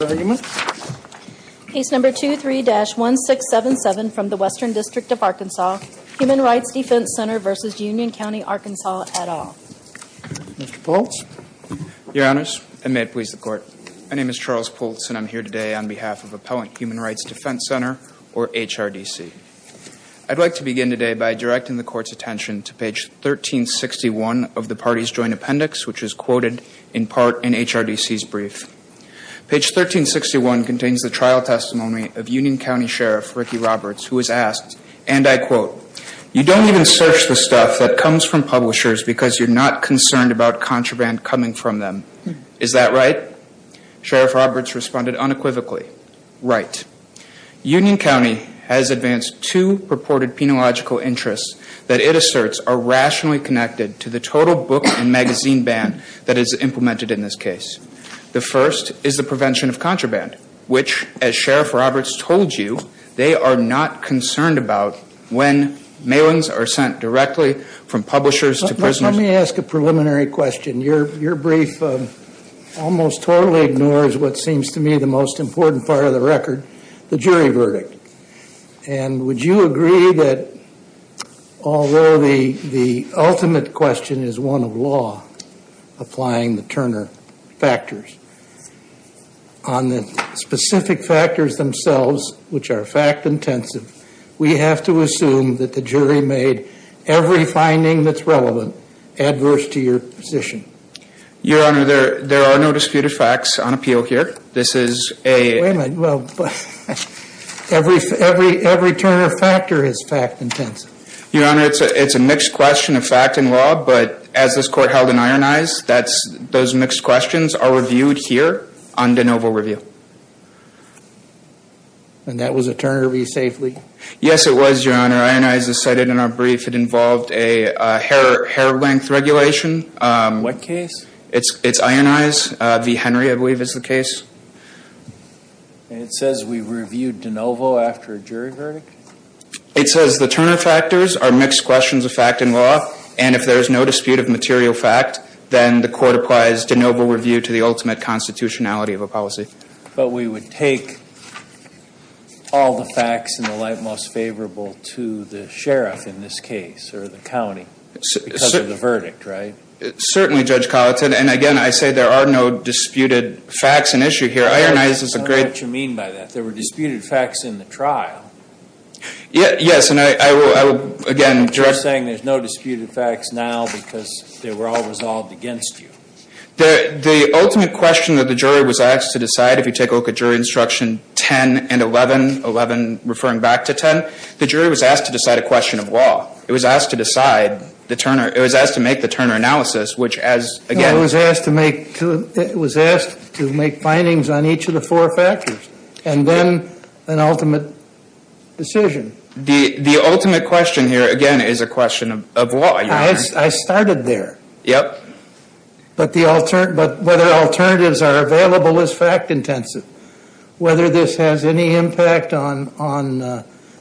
Case number 23-1677 from the Western District of Arkansas, Human Rights Defense Center v. Union County, Arkansas, et al. Mr. Pultz? Your Honors, and may it please the Court, my name is Charles Pultz and I'm here today on behalf of Appellant Human Rights Defense Center, or HRDC. I'd like to begin today by directing the Court's attention to page 1361 of the party's joint appendix, which is quoted in part in HRDC's brief. Page 1361 contains the trial testimony of Union County Sheriff Ricky Roberts, who was asked, and I quote, you don't even search the stuff that comes from publishers because you're not concerned about contraband coming from them. Is that right? Sheriff Roberts responded unequivocally, right. Union County has advanced two purported penological interests that it asserts are rationally connected to the total book and magazine ban that is implemented in this case. The first is the prevention of contraband, which, as Sheriff Roberts told you, they are not concerned about when mailings are sent directly from publishers to prisoners. Let me ask a preliminary question. Your brief almost totally ignores what seems to me the most important part of the record, the jury verdict. And would you agree that although the ultimate question is one of law applying the Turner factors, on the specific factors themselves, which are fact intensive, we have to assume that the jury made every finding that's relevant adverse to your position? Your Honor, there are no disputed facts on appeal here. Wait a minute. Every Turner factor is fact intensive. Your Honor, it's a mixed question of fact and law, but as this court held in Iron Eyes, those mixed questions are reviewed here on de novo review. And that was a Turner v. Safely? Yes, it was, Your Honor. Iron Eyes decided in our brief it involved a hair length regulation. What case? It's Iron Eyes v. Henry, I believe, is the case. And it says we reviewed de novo after a jury verdict? It says the Turner factors are mixed questions of fact and law, and if there is no dispute of material fact, then the court applies de novo review to the ultimate constitutionality of a policy. But we would take all the facts in the light most favorable to the sheriff in this case, or the county, because of the verdict, right? Certainly, Judge Colleton. And, again, I say there are no disputed facts in issue here. Iron Eyes is a great ---- I don't know what you mean by that. There were disputed facts in the trial. Yes, and I will again direct ---- You're saying there's no disputed facts now because they were all resolved against you. The ultimate question that the jury was asked to decide, if you take a look at jury instruction 10 and 11, 11 referring back to 10, the jury was asked to decide a question of law. It was asked to decide the Turner ---- It was asked to make the Turner analysis, which as, again ---- It was asked to make findings on each of the four factors, and then an ultimate decision. The ultimate question here, again, is a question of law. I started there. Yep. But whether alternatives are available is fact intensive. Whether this has any impact on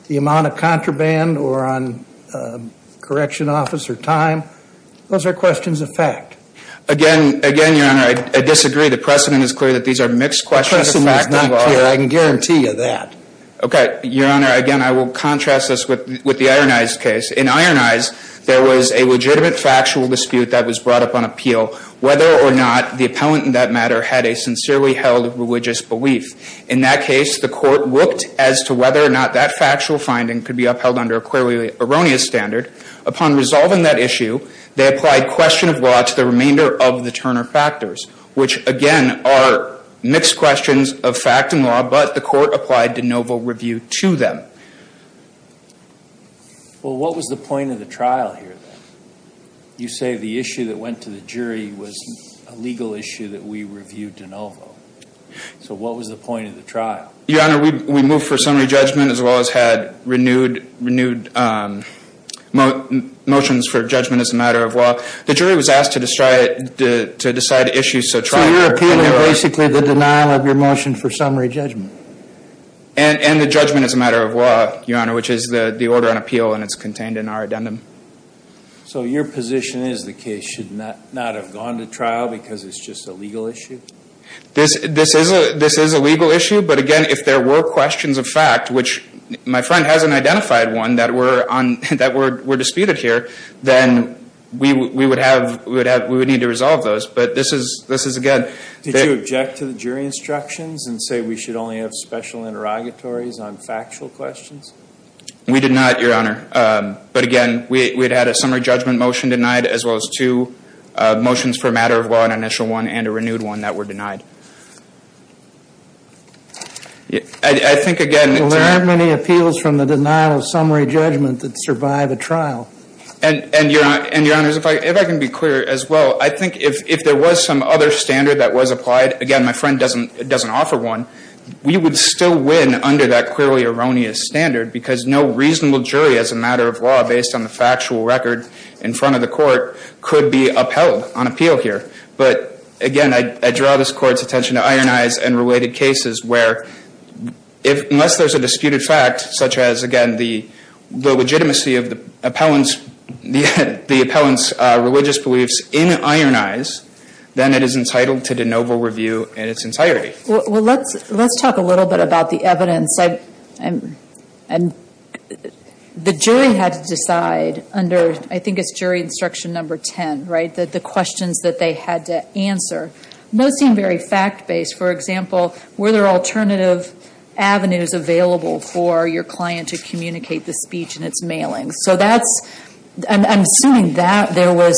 the amount of contraband or on correction officer time, those are questions of fact. Again, Your Honor, I disagree. The precedent is clear that these are mixed questions of fact. The precedent is not clear. I can guarantee you that. Okay. Your Honor, again, I will contrast this with the Iron Eyes case. In Iron Eyes, there was a legitimate factual dispute that was brought up on appeal. Whether or not the appellant in that matter had a sincerely held religious belief. In that case, the court looked as to whether or not that factual finding could be upheld under a clearly erroneous standard. Upon resolving that issue, they applied question of law to the remainder of the Turner factors, which, again, are mixed questions of fact and law, but the court applied de novo review to them. Well, what was the point of the trial here, then? You say the issue that went to the jury was a legal issue that we reviewed de novo. So what was the point of the trial? Your Honor, we moved for summary judgment, as well as had renewed motions for judgment as a matter of law. The jury was asked to decide issues, so trial or appeal. So you're appealing basically the denial of your motion for summary judgment. And the judgment as a matter of law, Your Honor, which is the order on appeal, and it's contained in our addendum. So your position is the case should not have gone to trial because it's just a legal issue? This is a legal issue. But, again, if there were questions of fact, which my friend hasn't identified one that were disputed here, then we would need to resolve those. But this is, again, Did you object to the jury instructions and say we should only have special interrogatories on factual questions? We did not, Your Honor. But, again, we had had a summary judgment motion denied as well as two motions for a matter of law, an initial one and a renewed one that were denied. I think, again, Well, there aren't many appeals from the denial of summary judgment that survive a trial. And, Your Honor, if I can be clear as well, I think if there was some other standard that was applied, again, my friend doesn't offer one, we would still win under that clearly erroneous standard because no reasonable jury, as a matter of law based on the factual record in front of the court, could be upheld on appeal here. But, again, I draw this Court's attention to ironized and related cases where unless there's a disputed fact, such as, again, the legitimacy of the appellant's religious beliefs in ironized, then it is entitled to de novo review in its entirety. Well, let's talk a little bit about the evidence. The jury had to decide under, I think it's jury instruction number 10, right, the questions that they had to answer. Most seem very fact-based. For example, were there alternative avenues available for your client to communicate the speech in its mailing? So that's, I'm assuming that there was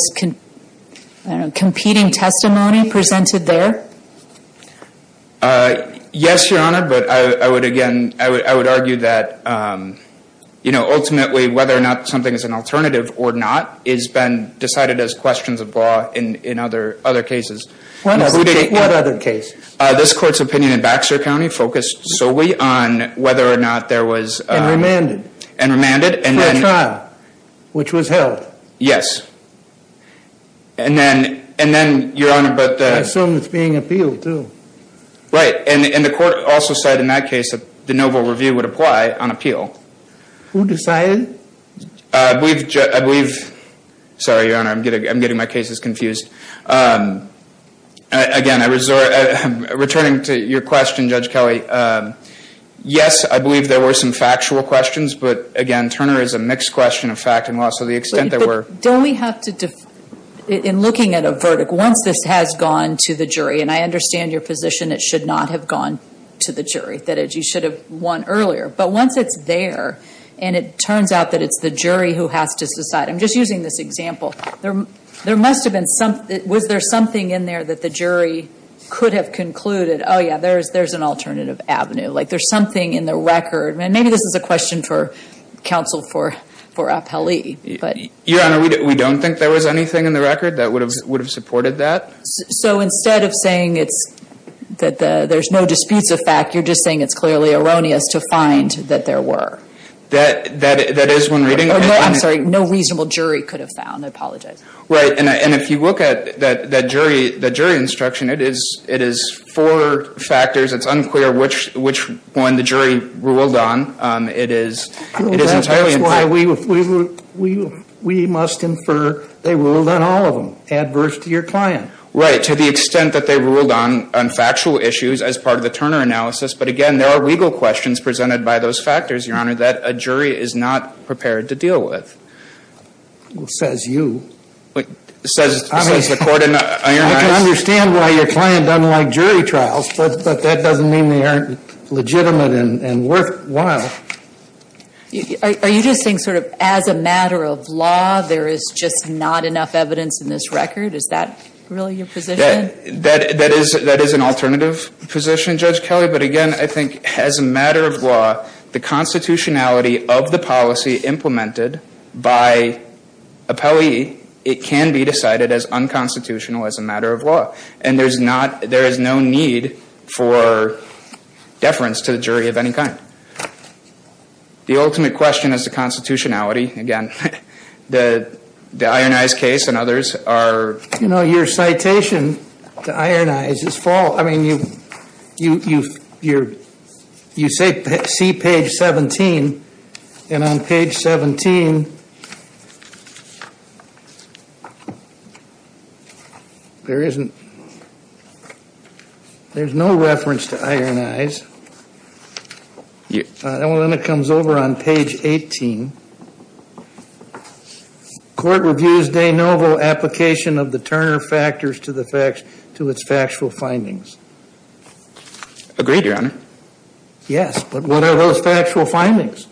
competing testimony presented there? Yes, Your Honor, but I would, again, I would argue that, you know, ultimately whether or not something is an alternative or not has been decided as questions of law in other cases. What other cases? This Court's opinion in Baxter County focused solely on whether or not there was... And remanded. And remanded. For a trial, which was held. Yes. And then, Your Honor, but... I assume it's being appealed, too. Right, and the Court also said in that case that de novo review would apply on appeal. Who decided? I believe, sorry, Your Honor, I'm getting my cases confused. Again, returning to your question, Judge Kelly, yes, I believe there were some factual questions. But, again, Turner is a mixed question of fact and law. So the extent that we're... Don't we have to, in looking at a verdict, once this has gone to the jury, and I understand your position it should not have gone to the jury, that you should have won earlier. But once it's there, and it turns out that it's the jury who has to decide, I'm just using this example. There must have been some... Was there something in there that the jury could have concluded, oh, yeah, there's an alternative avenue. Like there's something in the record. And maybe this is a question for counsel for appellee. Your Honor, we don't think there was anything in the record that would have supported that. So instead of saying it's... That there's no disputes of fact, you're just saying it's clearly erroneous to find that there were. That is when reading... I'm sorry, no reasonable jury could have found. I apologize. Right, and if you look at that jury instruction, it is four factors. It's unclear which one the jury ruled on. It is entirely... That's why we must infer they ruled on all of them, adverse to your client. Right, to the extent that they ruled on factual issues as part of the Turner analysis. But again, there are legal questions presented by those factors, your Honor, that a jury is not prepared to deal with. Says you. Says the court. I can understand why your client doesn't like jury trials. But that doesn't mean they aren't legitimate and worthwhile. Are you just saying sort of as a matter of law, there is just not enough evidence in this record? Is that really your position? That is an alternative position, Judge Kelly. I'm sorry, but again, I think as a matter of law, the constitutionality of the policy implemented by appellee, it can be decided as unconstitutional as a matter of law. And there is no need for deference to the jury of any kind. The ultimate question is the constitutionality. Again, the Iron Eyes case and others are... You know, your citation to Iron Eyes is false. I mean, you say see page 17. And on page 17, there is no reference to Iron Eyes. And then it comes over on page 18. Court reviews de novo application of the Turner factors to its factual findings. Agreed, Your Honor. Yes, but what are those factual findings?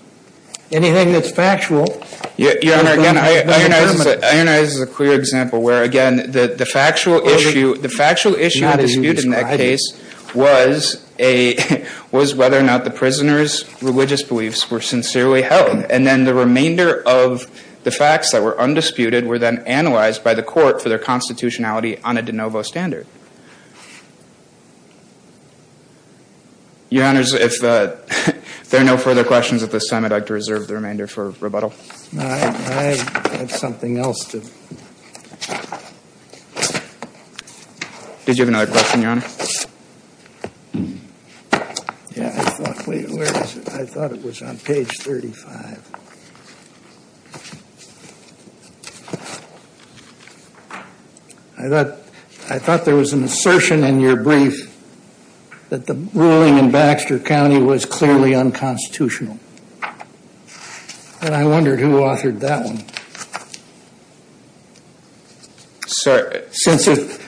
Anything that's factual... Your Honor, again, Iron Eyes is a clear example where, again, the factual issue of the dispute in that case was whether or not the prisoners' religious beliefs were sincerely held. And then the remainder of the facts that were undisputed were then analyzed by the court for their constitutionality on a de novo standard. Your Honors, if there are no further questions at this time, I'd like to reserve the remainder for rebuttal. I have something else to... Did you have another question, Your Honor? Yeah, I thought... Wait, where is it? I thought it was on page 35. I thought there was an assertion in your brief that the ruling in Baxter County was clearly unconstitutional. And I wondered who authored that one. Since if...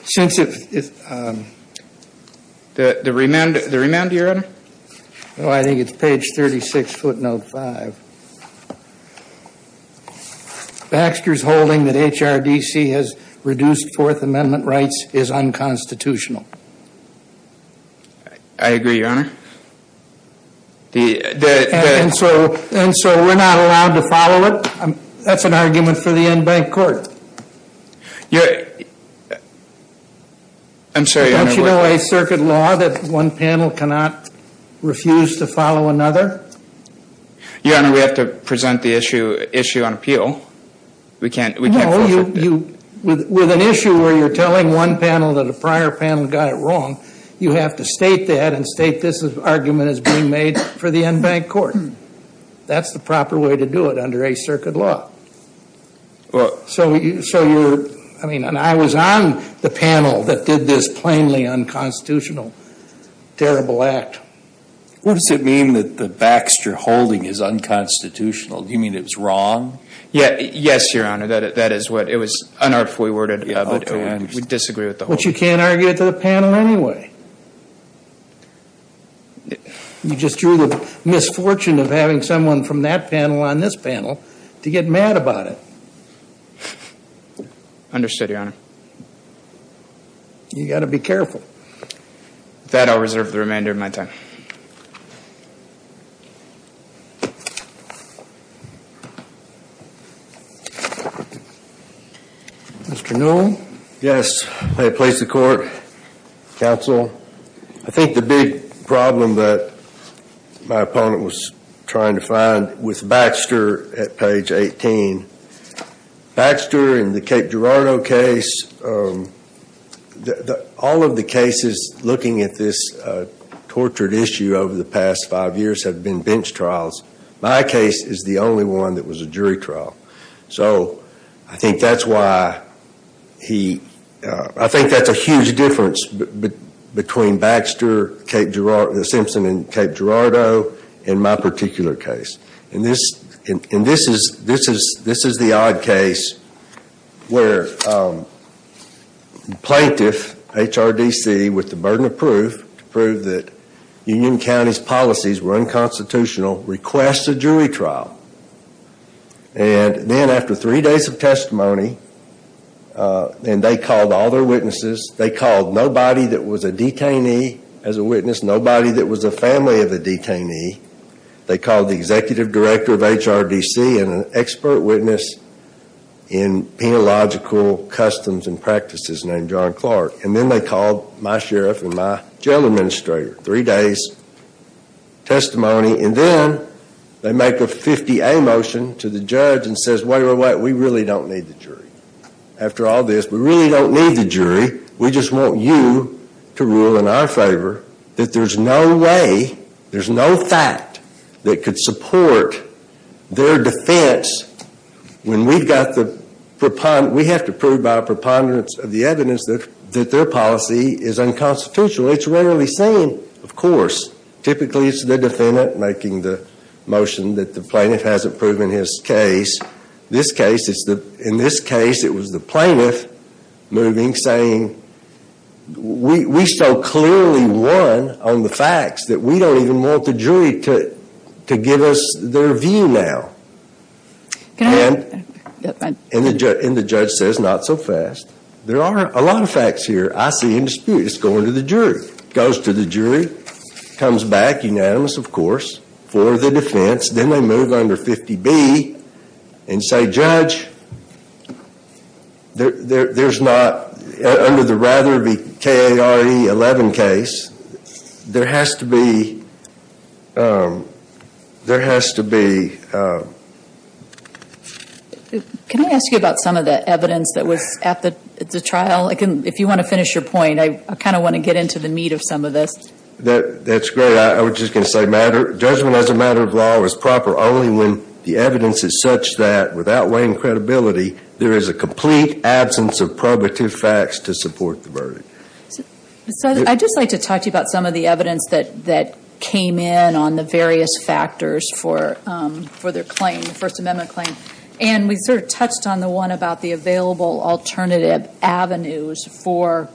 The remainder, Your Honor? Oh, I think it's page 36, footnote 5. Baxter's holding that HRDC has reduced Fourth Amendment rights is unconstitutional. I agree, Your Honor. And so we're not allowed to follow it? That's an argument for the in-bank court. I'm sorry, Your Honor. Don't you know by circuit law that one panel cannot refuse to follow another? Your Honor, we have to present the issue on appeal. We can't force it. With an issue where you're telling one panel that a prior panel got it wrong, you have to state that and state this argument is being made for the in-bank court. That's the proper way to do it under a circuit law. So you're... I mean, and I was on the panel that did this plainly unconstitutional, terrible act. What does it mean that the Baxter holding is unconstitutional? Do you mean it was wrong? Yes, Your Honor, that is what it was unartfully worded, but we disagree with the hold. But you can't argue it to the panel anyway. You just drew the misfortune of having someone from that panel on this panel to get mad about it. Understood, Your Honor. You've got to be careful. With that, I'll reserve the remainder of my time. Mr. Newell? Yes, may it please the Court, Counsel. I think the big problem that my opponent was trying to find with Baxter at page 18, Baxter in the Cape Girardeau case, all of the cases looking at this tortured issue over the past five years have been bench trials. My case is the only one that was a jury trial. So I think that's why he... I think that's a huge difference between Baxter, Simpson, and Cape Girardeau in my particular case. And this is the odd case where the plaintiff, HRDC, with the burden of proof, to prove that Union County's policies were unconstitutional, requests a jury trial. And then after three days of testimony, and they called all their witnesses, they called nobody that was a detainee as a witness, nobody that was a family of a detainee. They called the executive director of HRDC and an expert witness in penological customs and practices named John Clark. And then they called my sheriff and my jail administrator. Three days' testimony. And then they make a 50-A motion to the judge and says, wait, wait, wait, we really don't need the jury. After all this, we really don't need the jury. We just want you to rule in our favor that there's no way, there's no fact that could support their defense when we have to prove by a preponderance of the evidence that their policy is unconstitutional. It's rarely seen, of course. Typically, it's the defendant making the motion that the plaintiff hasn't proven his case. In this case, it was the plaintiff moving, saying, we so clearly won on the facts that we don't even want the jury to give us their view now. And the judge says, not so fast. There are a lot of facts here I see in dispute. It's going to the jury. It goes to the jury, comes back, unanimous, of course, for the defense. Then they move under 50-B and say, judge, there's not, under the Rather v. Kare 11 case, there has to be, there has to be. Can I ask you about some of the evidence that was at the trial? If you want to finish your point, I kind of want to get into the meat of some of this. That's great. I was just going to say, judgment as a matter of law is proper only when the evidence is such that, without weighing credibility, there is a complete absence of probative facts to support the verdict. I'd just like to talk to you about some of the evidence that came in on the various factors for their claim, the First Amendment claim. And we sort of touched on the one about the available alternative avenues for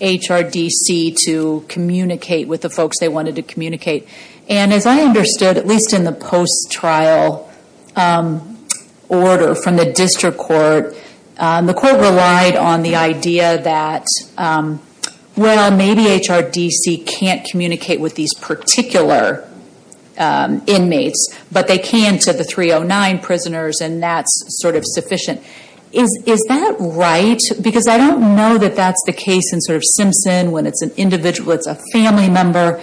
HRDC to communicate with the folks they wanted to communicate. And as I understood, at least in the post-trial order from the district court, the court relied on the idea that, well, maybe HRDC can't communicate with these particular inmates, but they can to the 309 prisoners, and that's sort of sufficient. Is that right? Because I don't know that that's the case in sort of Simpson, when it's an individual, it's a family member.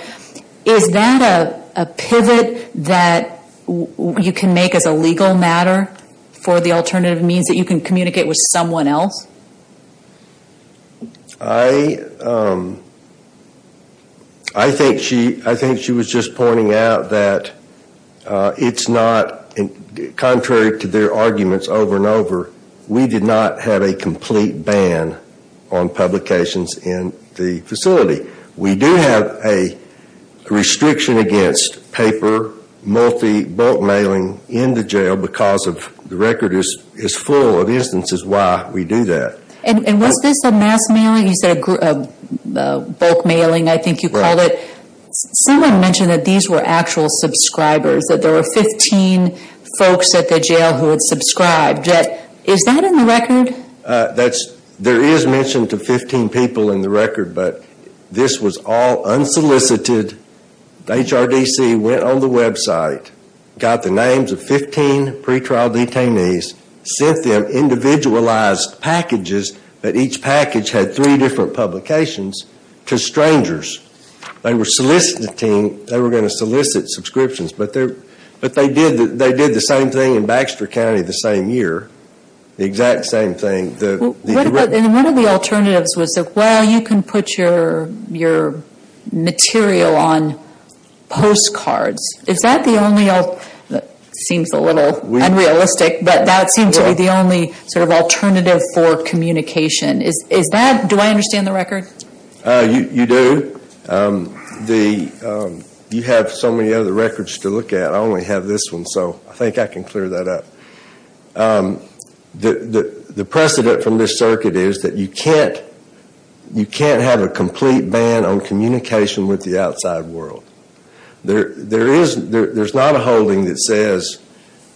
Is that a pivot that you can make as a legal matter for the alternative means that you can communicate with someone else? I think she was just pointing out that it's not, contrary to their arguments over and over, we did not have a complete ban on publications in the facility. We do have a restriction against paper, multi, bulk mailing in the jail because the record is full of instances why we do that. And was this a mass mailing? You said bulk mailing, I think you called it. Someone mentioned that these were actual subscribers, that there were 15 folks at the jail who had subscribed. Is that in the record? There is mention to 15 people in the record, but this was all unsolicited. HRDC went on the website, got the names of 15 pretrial detainees, sent them individualized packages, but each package had three different publications to strangers. They were soliciting, they were going to solicit subscriptions, but they did the same thing in Baxter County the same year. The exact same thing. One of the alternatives was, well, you can put your material on postcards. Is that the only alternative? It seems a little unrealistic, but that seems to be the only alternative for communication. Do I understand the record? You do. You have so many other records to look at. I only have this one, so I think I can clear that up. The precedent from this circuit is that you can't have a complete ban on communication with the outside world. There is not a holding that says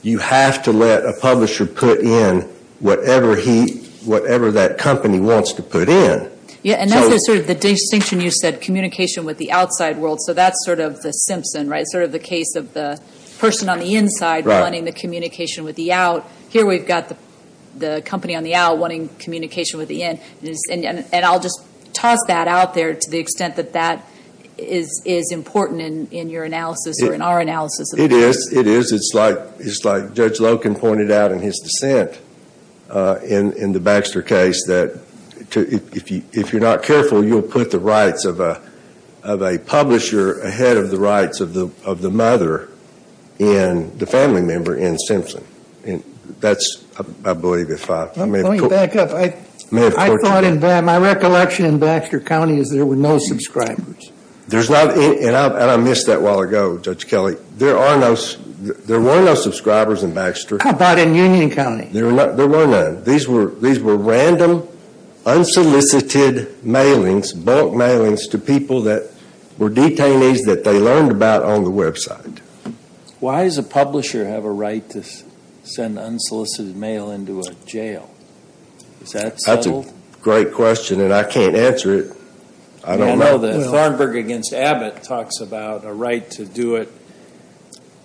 you have to let a publisher put in whatever that company wants to put in. That's the distinction you said, communication with the outside world. That's the Simpson, the case of the person on the inside wanting the communication with the out. Here we've got the company on the out wanting communication with the in. I'll just toss that out there to the extent that that is important in your analysis or in our analysis. It is. It's like Judge Loken pointed out in his dissent in the Baxter case that if you're not careful, you'll put the rights of a publisher ahead of the rights of the mother and the family member in Simpson. That's, I believe, if I may have put it that way. Let me back up. I thought in my recollection in Baxter County is there were no subscribers. I missed that a while ago, Judge Kelly. There were no subscribers in Baxter. How about in Union County? There were none. These were random, unsolicited mailings, bulk mailings to people that were detainees that they learned about on the website. Why does a publisher have a right to send unsolicited mail into a jail? Is that settled? That's a great question, and I can't answer it. I don't know. Thornburg v. Abbott talks about a right to do it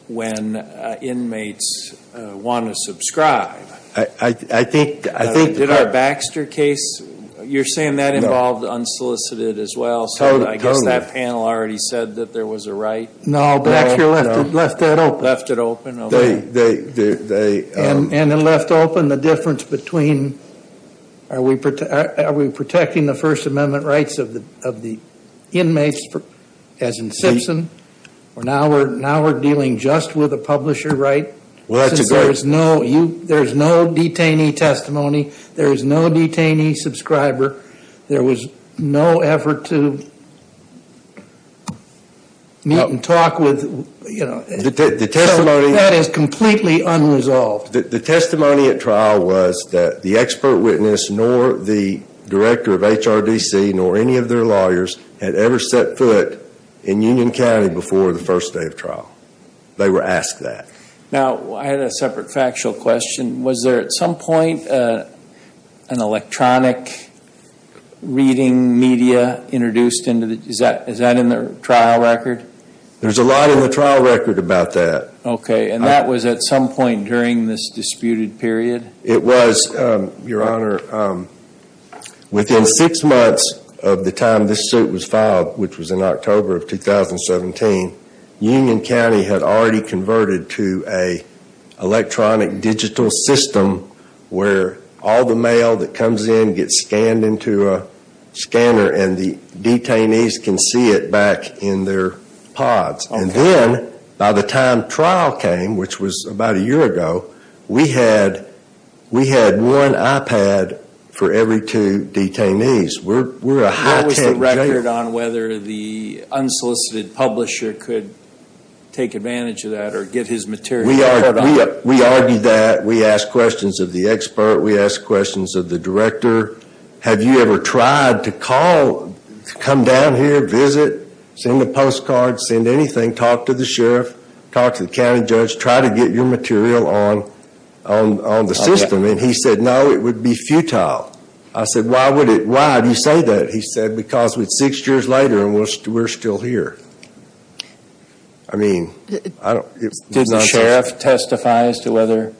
when inmates want to subscribe. Did our Baxter case, you're saying that involved unsolicited as well? Totally. I guess that panel already said that there was a right. No, Baxter left that open. Left it open, okay. And then left open the difference between are we protecting the First Amendment rights of the inmates, as in Simpson, or now we're dealing just with a publisher right? Well, that's a great. There's no detainee testimony. There's no detainee subscriber. There was no effort to meet and talk with, you know. That is completely unresolved. The testimony at trial was that the expert witness, nor the director of HRDC, nor any of their lawyers had ever set foot in Union County before the first day of trial. They were asked that. Now, I had a separate factual question. Was there at some point an electronic reading media introduced? Is that in the trial record? There's a lot in the trial record about that. Okay. And that was at some point during this disputed period? It was, Your Honor. Within six months of the time this suit was filed, which was in October of 2017, Union County had already converted to an electronic digital system where all the mail that comes in gets scanned into a scanner and the detainees can see it back in their pods. And then by the time trial came, which was about a year ago, we had one iPad for every two detainees. We're a high tech jail. What was the record on whether the unsolicited publisher could take advantage of that or get his material? We argued that. We asked questions of the expert. We asked questions of the director. Have you ever tried to come down here, visit, send a postcard, send anything, talk to the sheriff, talk to the county judge, try to get your material on the system? And he said, no, it would be futile. I said, why do you say that? He said, because it's six years later and we're still here. I mean, I don't. Did the sheriff testify as to whether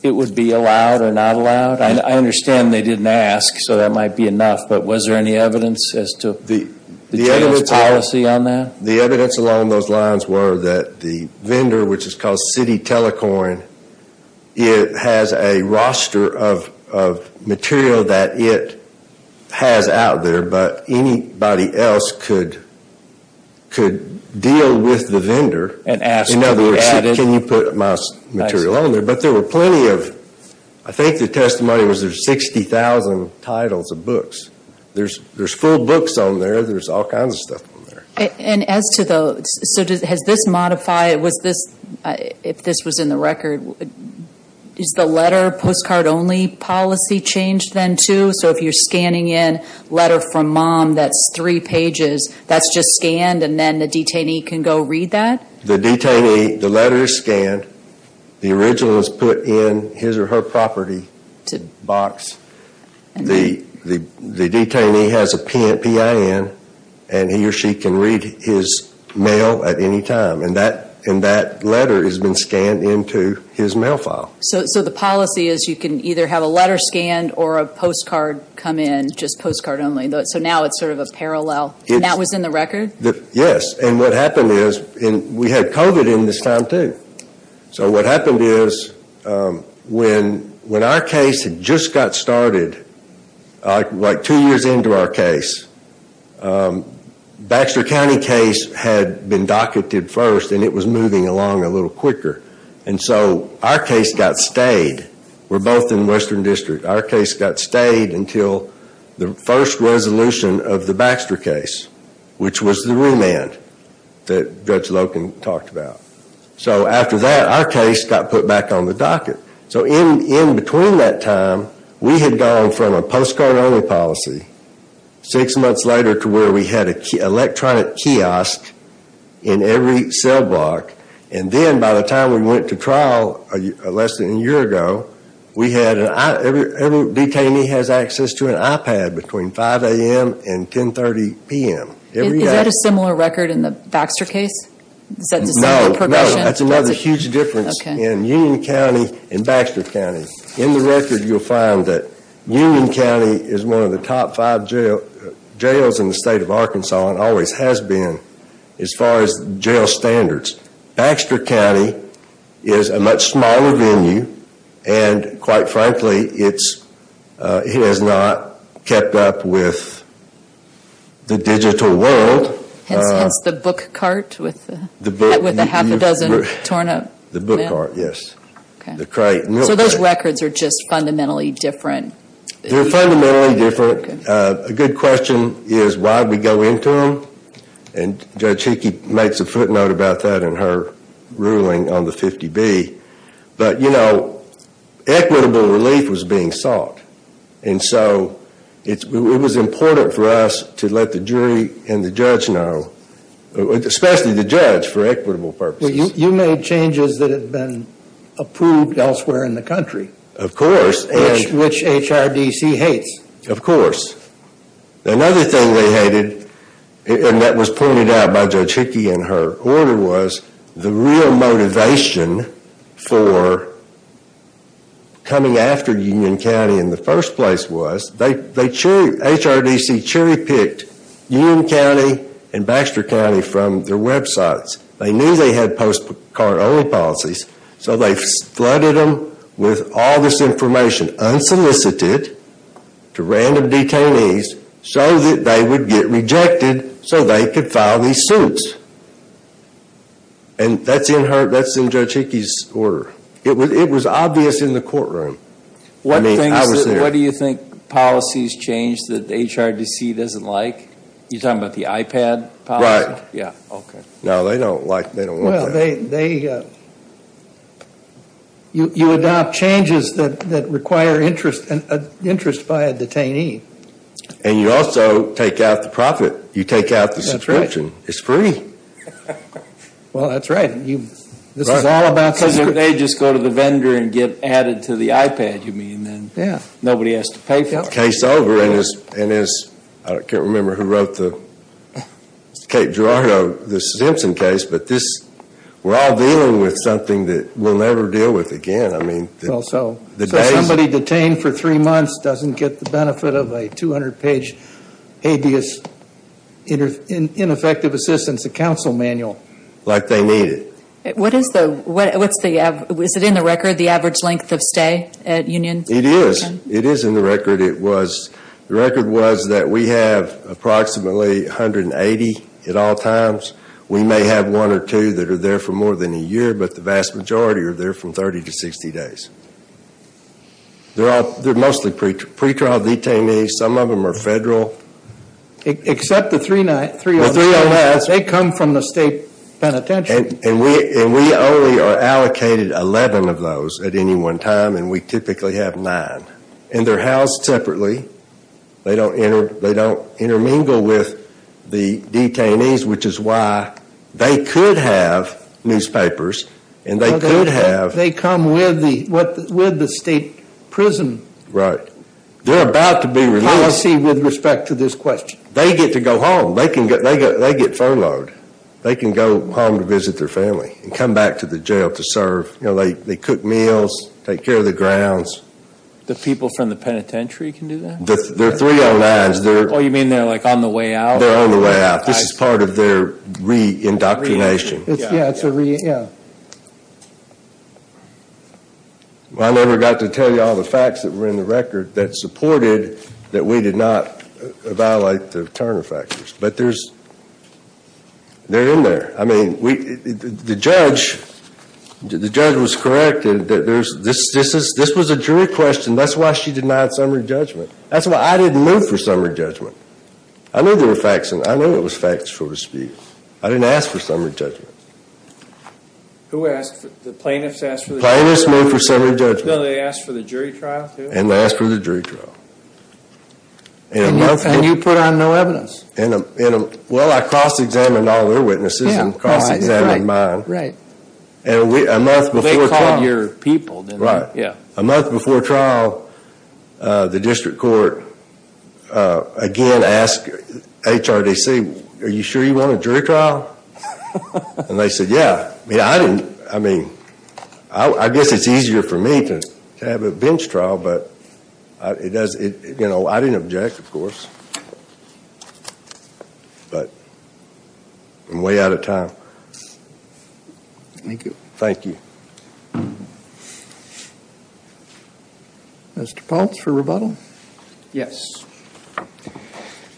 it would be allowed or not allowed? I understand they didn't ask, so that might be enough. But was there any evidence as to the jail's policy on that? The evidence along those lines were that the vendor, which is called City Telecoin, it has a roster of material that it has out there. But anybody else could deal with the vendor. In other words, can you put my material on there? But there were plenty of, I think the testimony was there's 60,000 titles of books. There's full books on there. There's all kinds of stuff on there. And as to the, so has this modified, was this, if this was in the record, is the letter postcard only policy changed then too? So if you're scanning in letter from mom that's three pages, that's just scanned and then the detainee can go read that? The detainee, the letter is scanned. The original is put in his or her property box. The detainee has a PIN and he or she can read his mail at any time. And that letter has been scanned into his mail file. So the policy is you can either have a letter scanned or a postcard come in, just postcard only. So now it's sort of a parallel. And that was in the record? Yes. And what happened is, and we had COVID in this time too. So what happened is when our case had just got started, like two years into our case, Baxter County case had been docketed first and it was moving along a little quicker. And so our case got stayed. We're both in Western District. Our case got stayed until the first resolution of the Baxter case, which was the remand that Judge Loken talked about. So after that, our case got put back on the docket. So in between that time, we had gone from a postcard only policy, six months later to where we had an electronic kiosk in every cell block. And then by the time we went to trial less than a year ago, every detainee has access to an iPad between 5 a.m. and 10.30 p.m. Is that a similar record in the Baxter case? No. That's another huge difference in Union County and Baxter County. In the record, you'll find that Union County is one of the top five jails in the state of Arkansas and always has been as far as jail standards. Baxter County is a much smaller venue, and quite frankly, it has not kept up with the digital world. Hence the book cart with the half a dozen torn up mail? The book cart, yes. So those records are just fundamentally different? They're fundamentally different. A good question is why we go into them, and Judge Hickey makes a footnote about that in her ruling on the 50B. But, you know, equitable relief was being sought. And so it was important for us to let the jury and the judge know, especially the judge, for equitable purposes. You made changes that have been approved elsewhere in the country. Of course. Which HRDC hates. Of course. Another thing they hated, and that was pointed out by Judge Hickey in her order, was the real motivation for coming after Union County in the first place was HRDC cherry picked Union County and Baxter County from their websites. They knew they had postcard only policies, so they flooded them with all this information unsolicited to random detainees so that they would get rejected so they could file these suits. And that's in Judge Hickey's order. It was obvious in the courtroom. What do you think policies change that HRDC doesn't like? You're talking about the iPad policy? Right. Yeah. Okay. No, they don't like that. Well, you adopt changes that require interest by a detainee. And you also take out the profit. You take out the subscription. That's right. It's free. Well, that's right. This is all about subscription. Because if they just go to the vendor and get added to the iPad, you mean, then nobody has to pay for it. Case over. I can't remember who wrote the Kate Gerardo Simpson case, but we're all dealing with something that we'll never deal with again. So somebody detained for three months doesn't get the benefit of a 200-page habeas ineffective assistance, a counsel manual. Like they need it. Is it in the record, the average length of stay at Union? It is. It is in the record. The record was that we have approximately 180 at all times. We may have one or two that are there for more than a year, but the vast majority are there from 30 to 60 days. They're mostly pretrial detainees. Some of them are federal. Except the three O.S. The three O.S. They come from the state penitentiary. And we only are allocated 11 of those at any one time, and we typically have nine. And they're housed separately. They don't intermingle with the detainees, which is why they could have newspapers, and they could have. They come with the state prison. Right. They're about to be released. Policy with respect to this question. They get to go home. They get furloughed. They can go home to visit their family and come back to the jail to serve. They cook meals, take care of the grounds. The people from the penitentiary can do that? They're three O.N.s. Oh, you mean they're like on the way out? They're on the way out. This is part of their re-indoctrination. Yeah, it's a re-indoctrination. I never got to tell you all the facts that were in the record that supported that we did not violate the Turner factors. But they're in there. The judge was correct. This was a jury question. That's why she denied summary judgment. That's why I didn't move for summary judgment. I knew there were facts, and I knew it was facts, so to speak. I didn't ask for summary judgment. Who asked? The plaintiffs asked for the jury trial? Plaintiffs moved for summary judgment. No, they asked for the jury trial too? And they asked for the jury trial. And you put on no evidence? Well, I cross-examined all their witnesses and cross-examined mine. They called your people? Right. A month before trial, the district court again asked HRDC, are you sure you want a jury trial? And they said, yeah. I mean, I guess it's easier for me to have a bench trial, but I didn't object, of course. But I'm way out of time. Thank you. Thank you. Mr. Paltz for rebuttal? Yes.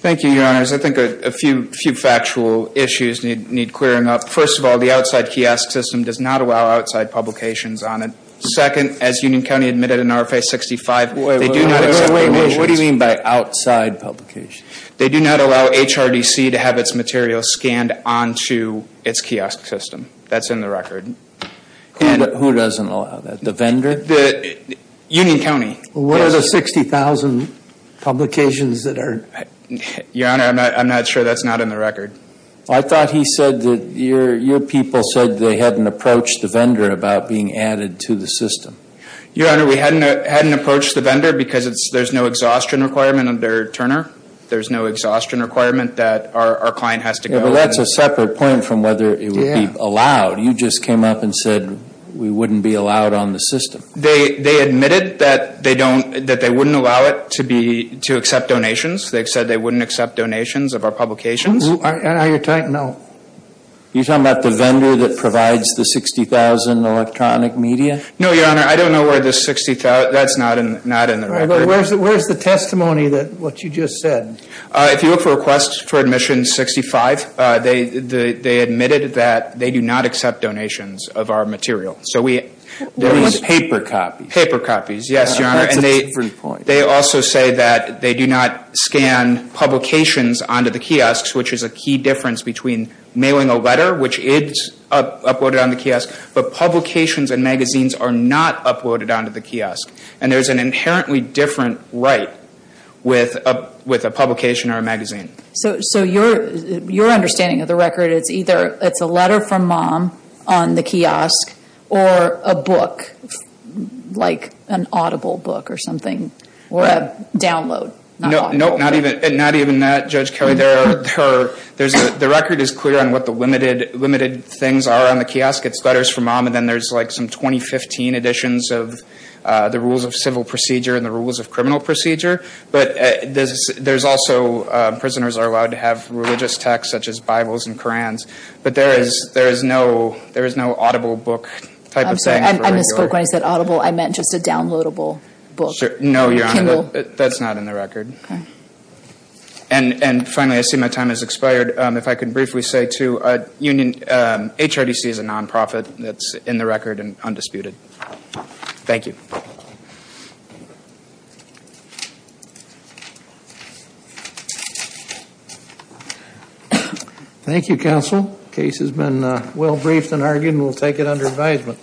Thank you, Your Honors. I think a few factual issues need clearing up. First of all, the outside kiosk system does not allow outside publications on it. Second, as Union County admitted in RFA 65, they do not accept publications. Wait, wait, wait. What do you mean by outside publications? They do not allow HRDC to have its materials scanned onto its kiosk system. That's in the record. Who doesn't allow that, the vendor? Union County. What are the 60,000 publications that are? Your Honor, I'm not sure that's not in the record. I thought he said that your people said they hadn't approached the vendor about being added to the system. Your Honor, we hadn't approached the vendor because there's no exhaustion requirement under Turner. There's no exhaustion requirement that our client has to go. Yeah, but that's a separate point from whether it would be allowed. You just came up and said we wouldn't be allowed on the system. They admitted that they wouldn't allow it to accept donations. They said they wouldn't accept donations of our publications. Are you talking about the vendor that provides the 60,000 electronic media? No, Your Honor. I don't know where the 60,000, that's not in the record. Where's the testimony that what you just said? If you look for a request for admission 65, they admitted that they do not accept donations of our material. What do you mean paper copies? Paper copies, yes, Your Honor. That's a different point. They also say that they do not scan publications onto the kiosks, which is a key difference between mailing a letter, which is uploaded on the kiosk, but publications and magazines are not uploaded onto the kiosk. And there's an inherently different right with a publication or a magazine. So your understanding of the record is either it's a letter from mom on the kiosk or a book, like an audible book or something, or a download. No, not even that, Judge Kelly. The record is clear on what the limited things are on the kiosk. It's letters from mom and then there's like some 2015 editions of the rules of civil procedure and the rules of criminal procedure. But there's also prisoners are allowed to have religious texts such as Bibles and Korans. But there is no audible book type of thing. I'm sorry, I misspoke when I said audible. I meant just a downloadable book. No, Your Honor, that's not in the record. And finally, I see my time has expired. If I could briefly say to Union, HRDC is a nonprofit that's in the record and undisputed. Thank you. Thank you, counsel. The case has been well briefed and argued and we'll take it under advisement.